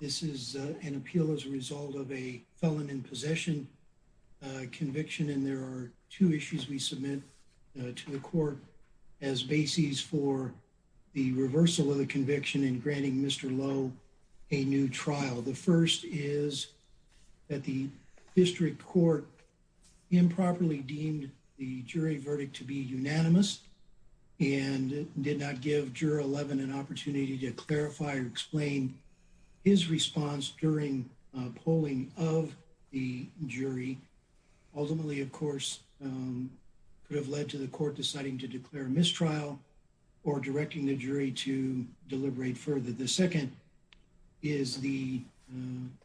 This is an appeal as a result of a felon in possession conviction and there are two issues we submit to the court as basis for the reversal of the case. The first is that the district court improperly deemed the jury verdict to be unanimous and did not give juror 11 an opportunity to clarify or explain his response during a polling of the jury ultimately, of course, could have led to the court deciding to declare mistrial or directing the jury to a new trial. The second is the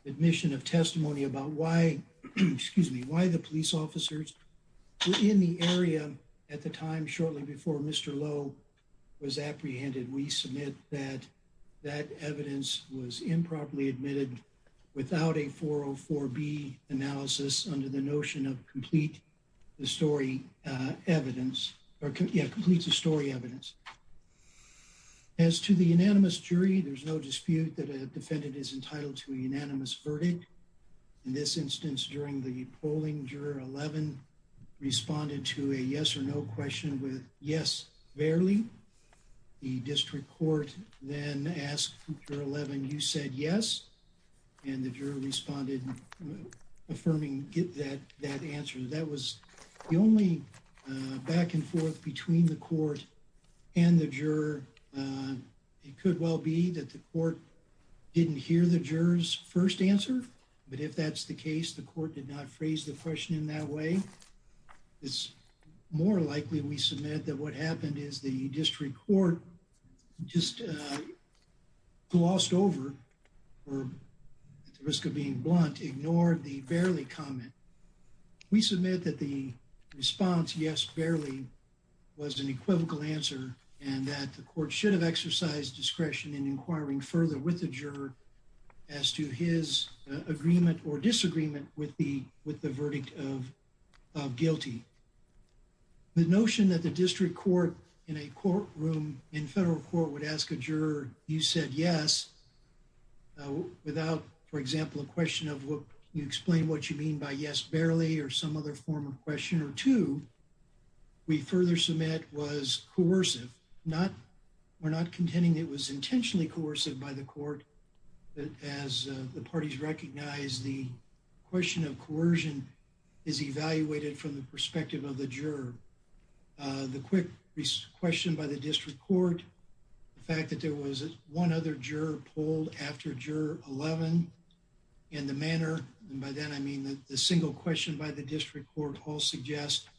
admission of testimony about why, excuse me, why the police officers were in the area at the time shortly before Mr. Lowe was apprehended. We submit that that evidence was improperly admitted without a 404B analysis under the notion of complete the story evidence or complete the story evidence. As to the unanimous jury, there's no dispute that a defendant is entitled to a unanimous verdict. In this instance, during the polling, juror 11 responded to a yes or no question with yes, barely. The district court then asked for 11. You said yes. And the juror responded, affirming that that answer that was the only back and forth between the court and the juror. It could well be that the court didn't hear the juror's first answer, but if that's the case, the court did not phrase the question in that way. It's more likely we submit that what happened is the district court just glossed over or at the risk of being blunt, ignored the barely comment. We submit that the response yes, barely was an equivocal answer and that the court should have exercised discretion in inquiring further with the juror as to his agreement or disagreement with the with the verdict of guilty. The notion that the district court in a courtroom in federal court would ask a juror, you said yes, without, for example, a question of what you explain what you mean by yes, barely, or some other form of question or two. We further submit was coercive, not we're not contending it was intentionally coercive by the court as the parties recognize the question of coercion is evaluated from the perspective of the juror. The quick question by the district court, the fact that there was one other juror pulled after 11 in the manner. And by then, I mean, the single question by the district court all suggest,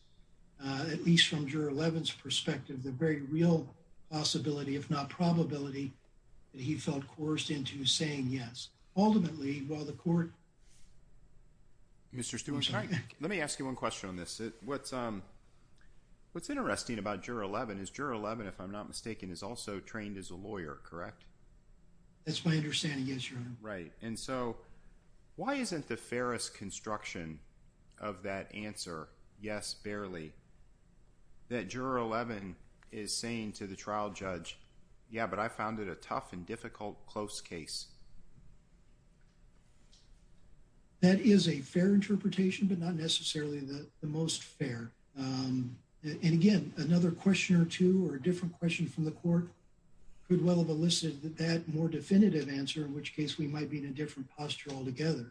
at least from your 11th perspective, the very real possibility, if not probability. He felt coerced into saying, yes, ultimately, while the court. Mr. Stuart, let me ask you one question on this. What's what's interesting about your 11 is your 11, if I'm not mistaken, is also trained as a lawyer. Correct. That's my understanding. Yes, you're right. And so why isn't the fairest construction of that answer? Yes, barely. That juror 11 is saying to the trial judge. Yeah, but I found it a tough and difficult close case. That is a fair interpretation, but not necessarily the most fair. And again, another question or two or a different question from the court could well have elicited that more definitive answer, in which case we might be in a different posture altogether.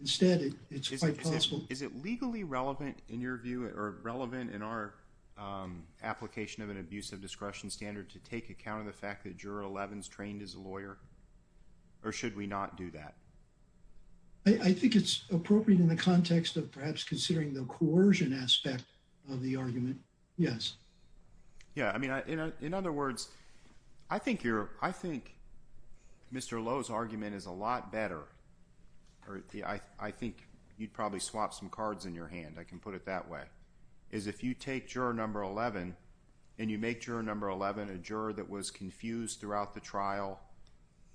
Instead, it's quite possible. Is it legally relevant in your view or relevant in our application of an abuse of discretion standard to take account of the fact that juror 11 is trained as a lawyer? Or should we not do that? I think it's appropriate in the context of perhaps considering the coercion aspect of the argument. Yes. Yeah. I mean, in other words, I think you're I think Mr. Lowe's argument is a lot better. I think you'd probably swap some cards in your hand. I can put it that way is if you take your number 11 and you make your number 11, a juror that was confused throughout the trial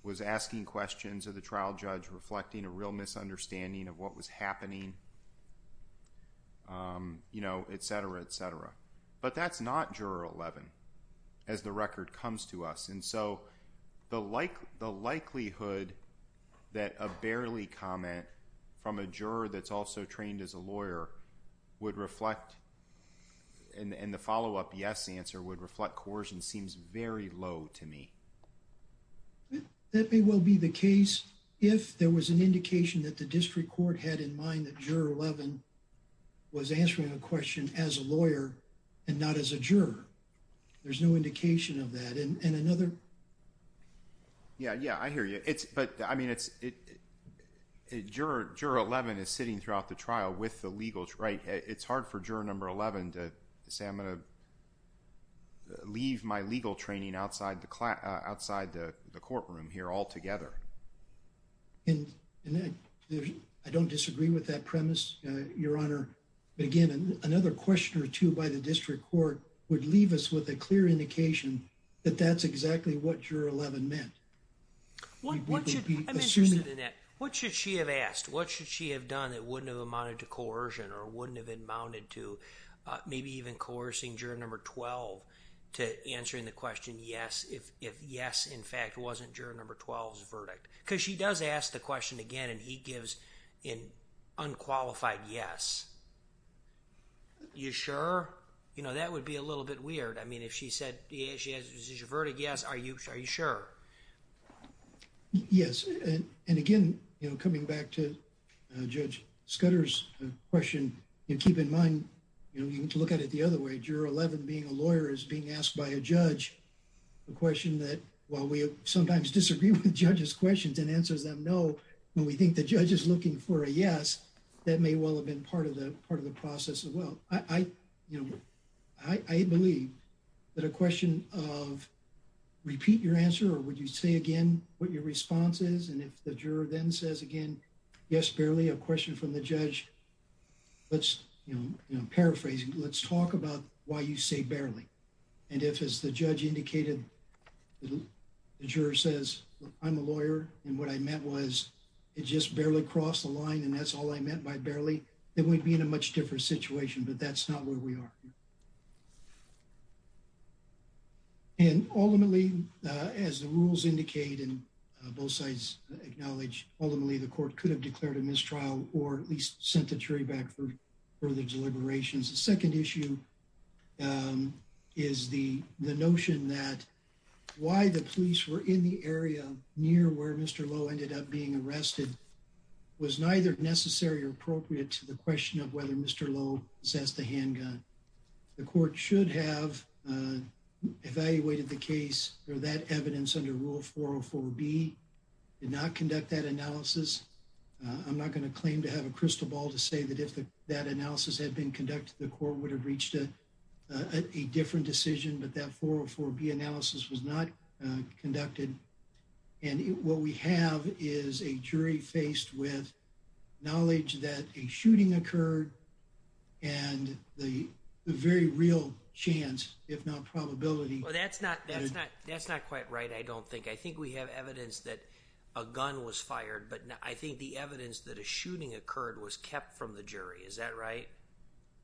was asking questions of the trial judge, reflecting a real misunderstanding of what was happening. You know, et cetera, et cetera. But that's not juror 11 as the record comes to us. And so the like the likelihood that a barely comment from a juror that's also trained as a lawyer would reflect in the follow up. Yes. The answer would reflect coercion seems very low to me. That may well be the case if there was an indication that the district court had in mind that 11 was answering a question as a lawyer and not as a juror. There's no indication of that. And another. Yeah, yeah, I hear you. It's but I mean, it's it juror 11 is sitting throughout the trial with the legal right. It's hard for juror number 11 to say I'm going to leave my legal training outside the class outside the courtroom here altogether. And I don't disagree with that premise, Your Honor. Again, another question or two by the district court would leave us with a clear indication that that's exactly what your 11 meant. What should she have asked? What should she have done that wouldn't have amounted to coercion or wouldn't have been mounted to maybe even coercing juror number 12 to answering the question? Yes. If yes, in fact, wasn't juror number 12's verdict because she does ask the question again and he gives an unqualified yes. You sure? You know, that would be a little bit weird. I mean, if she said she has a verdict, yes. Are you sure? Are you sure? Yes. And again, you know, coming back to Judge Scudder's question and keep in mind, you know, you can look at it the other way. You know, the question of juror 11 being a lawyer is being asked by a judge, a question that while we sometimes disagree with judges' questions and answers them no, when we think the judge is looking for a yes, that may well have been part of the part of the process as well. I, you know, I believe that a question of repeat your answer or would you say again what your response is? And if the juror then says again, yes, barely a question from the judge, let's paraphrase. Let's talk about why you say barely. And if, as the judge indicated, the juror says, I'm a lawyer and what I meant was it just barely crossed the line and that's all I meant by barely, then we'd be in a much different situation, but that's not where we are. And ultimately, as the rules indicate, and both sides acknowledge, ultimately, the court could have declared a mistrial or at least sent the jury back for further deliberations. The second issue is the notion that why the police were in the area near where Mr. Lowe ended up being arrested was neither necessary or appropriate to the question of whether Mr. Lowe possessed a handgun. The court should have evaluated the case or that evidence under Rule 404B, did not conduct that analysis. I'm not going to claim to have a crystal ball to say that if that analysis had been conducted, the court would have reached a different decision, but that 404B analysis was not conducted. And what we have is a jury faced with knowledge that a shooting occurred and the very real chance, if not probability. Well, that's not quite right, I don't think. I think we have evidence that a gun was fired, but I think the evidence that a shooting occurred was kept from the jury. Is that right?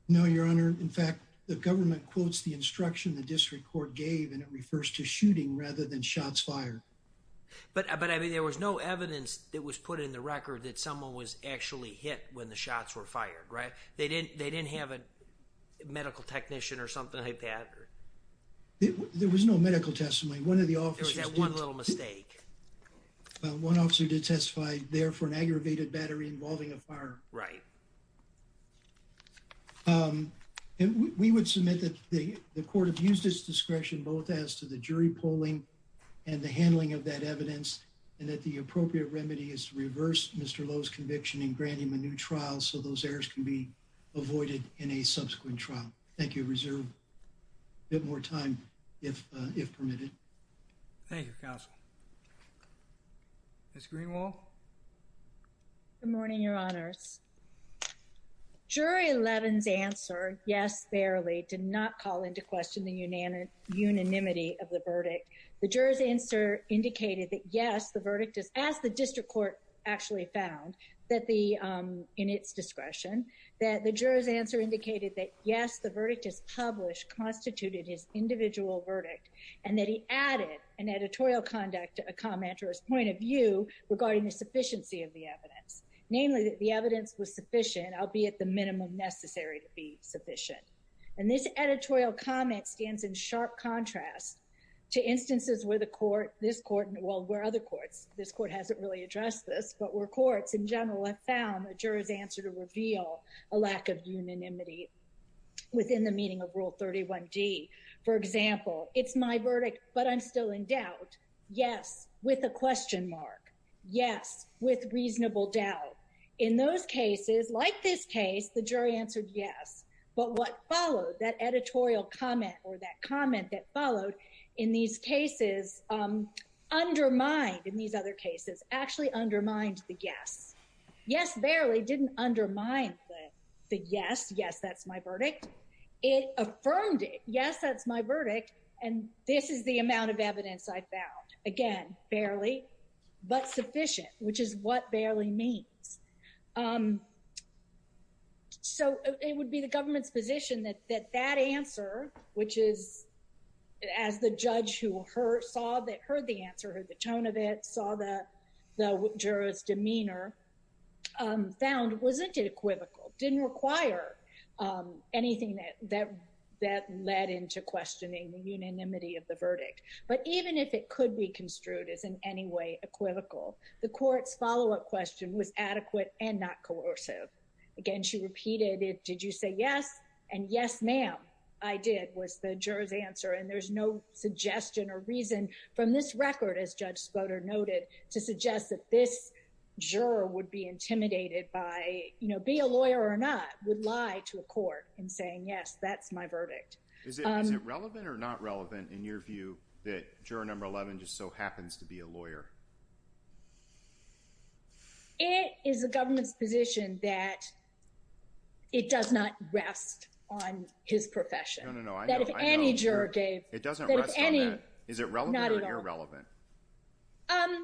No, Your Honor. In fact, the government quotes the instruction the district court gave and it refers to shooting rather than shots fired. But I mean, there was no evidence that was put in the record that someone was actually hit when the shots were fired, right? They didn't have a medical technician or something like that? There was no medical testimony. One of the officers... There was that one little mistake. Well, one officer did testify there for an aggravated battery involving a fire. Right. We would submit that the court have used its discretion both as to the jury polling and the handling of that evidence and that the appropriate remedy is to reverse Mr. Lowe's conviction and grant him a new trial so those errors can be avoided in a subsequent trial. Thank you. Reserve a bit more time, if permitted. Thank you, Counsel. Ms. Greenwald? Good morning, Your Honors. Jury 11's answer, yes, barely, did not call into question the unanimity of the verdict. The juror's answer indicated that, yes, the verdict is... As the district court actually found in its discretion, that the juror's answer indicated that, yes, the verdict is published, constituted his individual verdict, and that he added an editorial comment or his point of view regarding the sufficiency of the evidence. Namely, that the evidence was sufficient, albeit the minimum necessary to be sufficient. And this editorial comment stands in sharp contrast to instances where the court, this court, well, where other courts, this court hasn't really addressed this, but where courts in general have found the juror's answer to reveal a lack of unanimity within the meaning of Rule 31D. For example, it's my verdict, but I'm still in doubt. Yes, with a question mark. Yes, with reasonable doubt. In those cases, like this case, the jury answered yes. But what followed, that editorial comment or that comment that followed in these cases undermined, in these other cases, actually undermined the yes. Yes, barely didn't undermine the yes, yes, that's my verdict. It affirmed it, yes, that's my verdict, and this is the amount of evidence I found. Again, barely, but sufficient, which is what barely means. So it would be the government's position that that answer, which is, as the judge who heard the answer, heard the tone of it, saw the juror's demeanor, found wasn't it equivocal, didn't require anything that led into questioning the unanimity of the verdict. But even if it could be construed as in any way equivocal, the court's follow-up question was adequate and not coercive. Again, she repeated it, did you say yes? And yes, ma'am, I did, was the juror's answer. And there's no suggestion or reason from this record, as Judge Spoder noted, to suggest that this juror would be intimidated by, you know, be a lawyer or not, would lie to a court in saying, yes, that's my verdict. Is it relevant or not relevant, in your view, that juror number 11 just so happens to be a lawyer? It is the government's position that it does not rest on his profession. No, no, no, I know. That if any juror gave— It doesn't rest on that. Is it relevant or irrelevant? Not at all.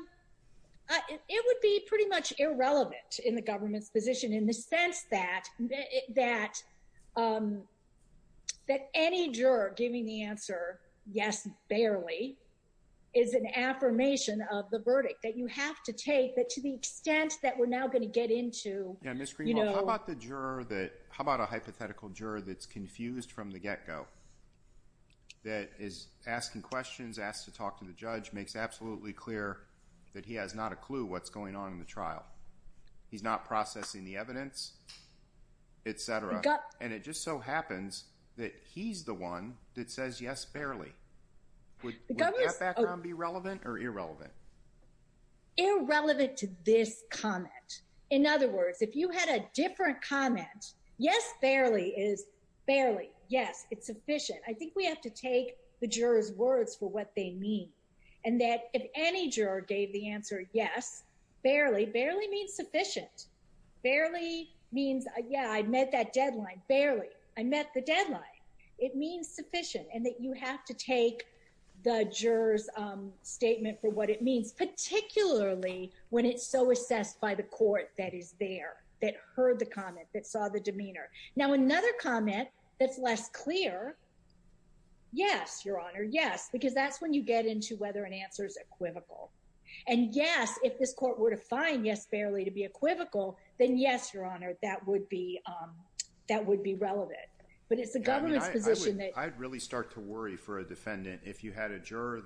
It would be pretty much irrelevant in the government's position in the sense that any juror giving the answer, yes, barely, is an affirmation of the verdict that you have to take. But to the extent that we're now going to get into— —that he has not a clue what's going on in the trial. He's not processing the evidence, et cetera. And it just so happens that he's the one that says yes, barely. Would that background be relevant or irrelevant? Irrelevant to this comment. In other words, if you had a different comment, yes, barely is barely, yes, it's sufficient. I think we have to take the juror's words for what they mean. And that if any juror gave the answer yes, barely, barely means sufficient. Barely means, yeah, I met that deadline. Barely, I met the deadline. It means sufficient. And that you have to take the juror's statement for what it means, particularly when it's so assessed by the court that is there, that heard the comment, that saw the demeanor. Now, another comment that's less clear, yes, Your Honor, yes. Because that's when you get into whether an answer is equivocal. And yes, if this court were to find yes, barely to be equivocal, then yes, Your Honor, that would be relevant. But it's the government's position that— I'd really start to worry for a defendant if you had a juror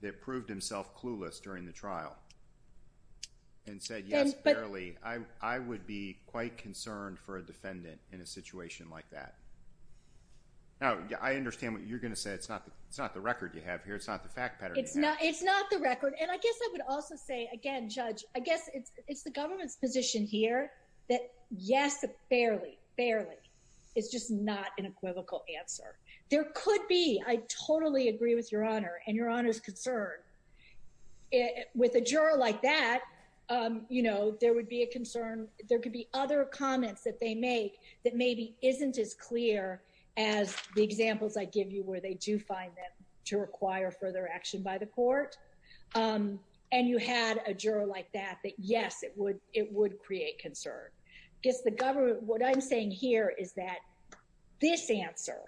that proved himself clueless during the trial and said yes, barely. I would be quite concerned for a defendant in a situation like that. Now, I understand what you're going to say. It's not the record you have here. It's not the fact pattern you have. It's not the record. And I guess I would also say, again, Judge, I guess it's the government's position here that yes, barely, barely is just not an equivocal answer. There could be—I totally agree with Your Honor and Your Honor's concern. With a juror like that, you know, there would be a concern. There could be other comments that they make that maybe isn't as clear as the examples I give you where they do find them to require further action by the court. And you had a juror like that, that yes, it would create concern. I guess the government—what I'm saying here is that this answer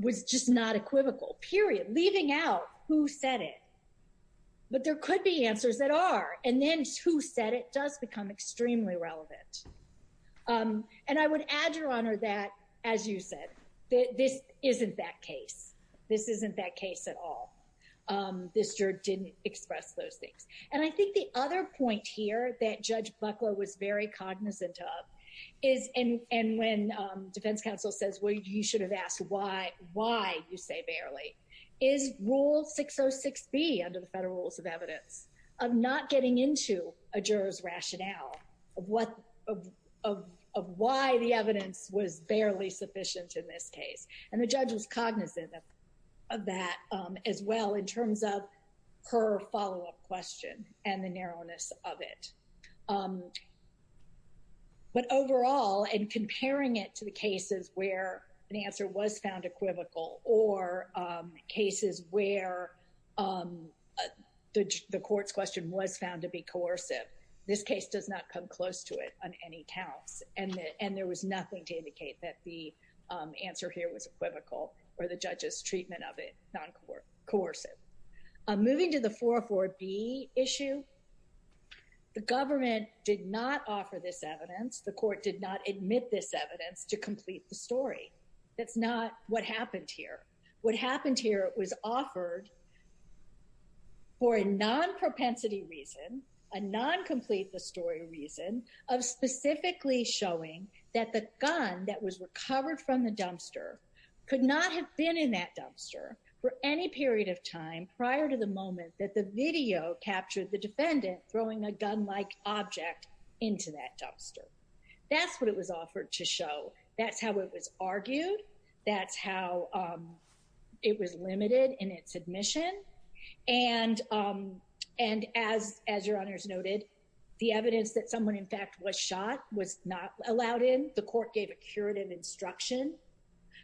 was just not equivocal, period, leaving out who said it. But there could be answers that are, and then who said it does become extremely relevant. And I would add, Your Honor, that, as you said, this isn't that case. This isn't that case at all. This juror didn't express those things. And I think the other point here that Judge Buckler was very cognizant of is—and when defense counsel says, well, you should have asked why you say barely— is Rule 606B under the Federal Rules of Evidence of not getting into a juror's rationale of what—of why the evidence was barely sufficient in this case. And the judge was cognizant of that as well in terms of her follow-up question and the narrowness of it. But overall, in comparing it to the cases where an answer was found equivocal or cases where the court's question was found to be coercive, this case does not come close to it on any counts. And there was nothing to indicate that the answer here was equivocal or the judge's treatment of it noncoercive. Moving to the 404B issue, the government did not offer this evidence. The court did not admit this evidence to complete the story. That's not what happened here. What happened here was offered for a non-propensity reason, a non-complete-the-story reason of specifically showing that the gun that was recovered from the dumpster could not have been in that dumpster for any period of time prior to the moment that the video captured the defendant throwing a gun-like object into that dumpster. That's what it was offered to show. That's how it was argued. That's how it was limited in its admission. And as your honors noted, the evidence that someone, in fact, was shot was not allowed in. The court gave a curative instruction.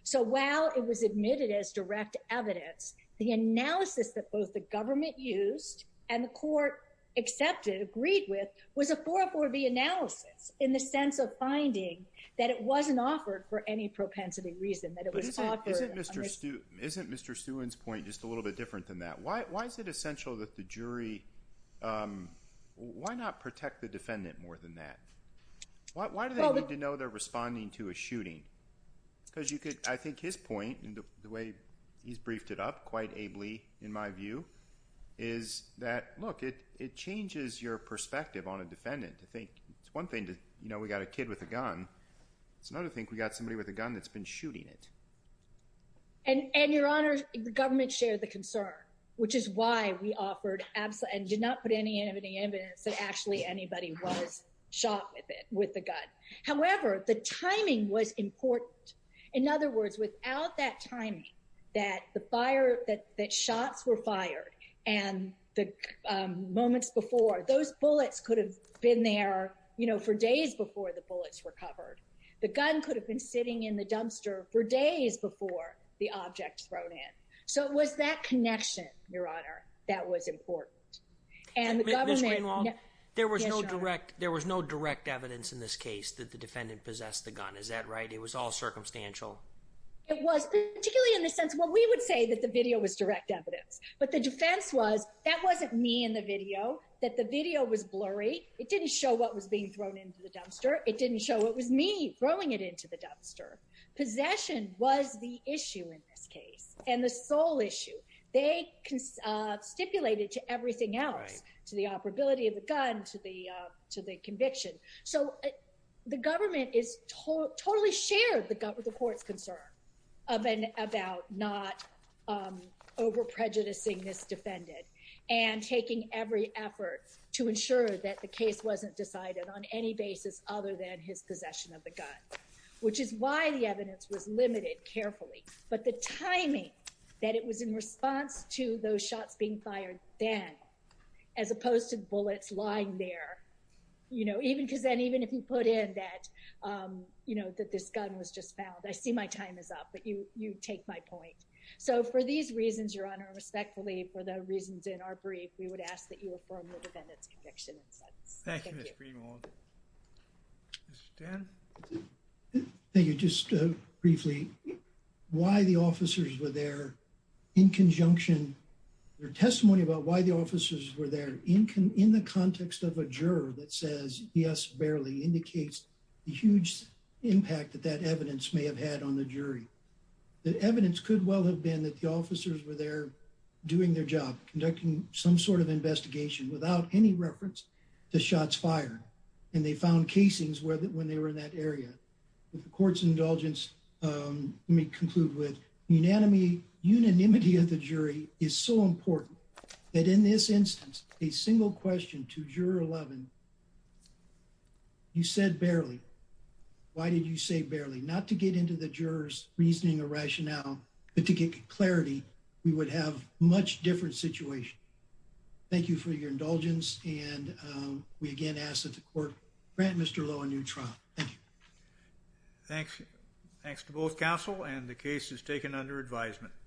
So while it was admitted as direct evidence, the analysis that both the government used and the court accepted, agreed with, was a 404B analysis in the sense of finding that it wasn't offered for any propensity reason. But isn't Mr. Stewart's point just a little bit different than that? Why is it essential that the jury—why not protect the defendant more than that? Why do they need to know they're responding to a shooting? Because you could—I think his point, and the way he's briefed it up quite ably, in my view, is that, look, it changes your perspective on a defendant. I think it's one thing to—you know, we got a kid with a gun. It's another thing if we got somebody with a gun that's been shooting it. And your honors, the government shared the concern, which is why we offered—and did not put any evidence that actually anybody was shot with the gun. However, the timing was important. In other words, without that timing, that the fire—that shots were fired and the moments before, those bullets could have been there, you know, for days before the bullets were covered. The gun could have been sitting in the dumpster for days before the object was thrown in. So it was that connection, your honor, that was important. Ms. Greenwald, there was no direct evidence in this case that the defendant possessed the gun. Is that right? It was all circumstantial? It was, particularly in the sense—well, we would say that the video was direct evidence. But the defense was, that wasn't me in the video, that the video was blurry. It didn't show what was being thrown into the dumpster. It didn't show it was me throwing it into the dumpster. Possession was the issue in this case, and the sole issue. They stipulated to everything else, to the operability of the gun, to the conviction. So the government is—totally shared the court's concern about not over-prejudicing this defendant and taking every effort to ensure that the case wasn't decided on any basis other than his possession of the gun, which is why the evidence was limited carefully. But the timing, that it was in response to those shots being fired then, as opposed to bullets lying there. You know, even because then, even if you put in that, you know, that this gun was just found. I see my time is up, but you take my point. So for these reasons, your honor, respectfully, for the reasons in our brief, we would ask that you affirm the defendant's conviction in sentence. Thank you, Ms. Greenwald. Mr. Stanton? Thank you. Just briefly, why the officers were there in conjunction—their testimony about why the officers were there in the context of a juror that says, yes, barely, indicates the huge impact that that evidence may have had on the jury. The evidence could well have been that the officers were there doing their job, conducting some sort of investigation without any reference to shots fired, and they found casings when they were in that area. With the court's indulgence, let me conclude with unanimity of the jury is so important that in this instance, a single question to Juror 11, you said barely. Why did you say barely? Not to get into the juror's reasoning or rationale, but to get clarity. We would have a much different situation. Thank you for your indulgence, and we again ask that the court grant Mr. Lowe a new trial. Thank you. Thanks to both counsel, and the case is taken under advisement.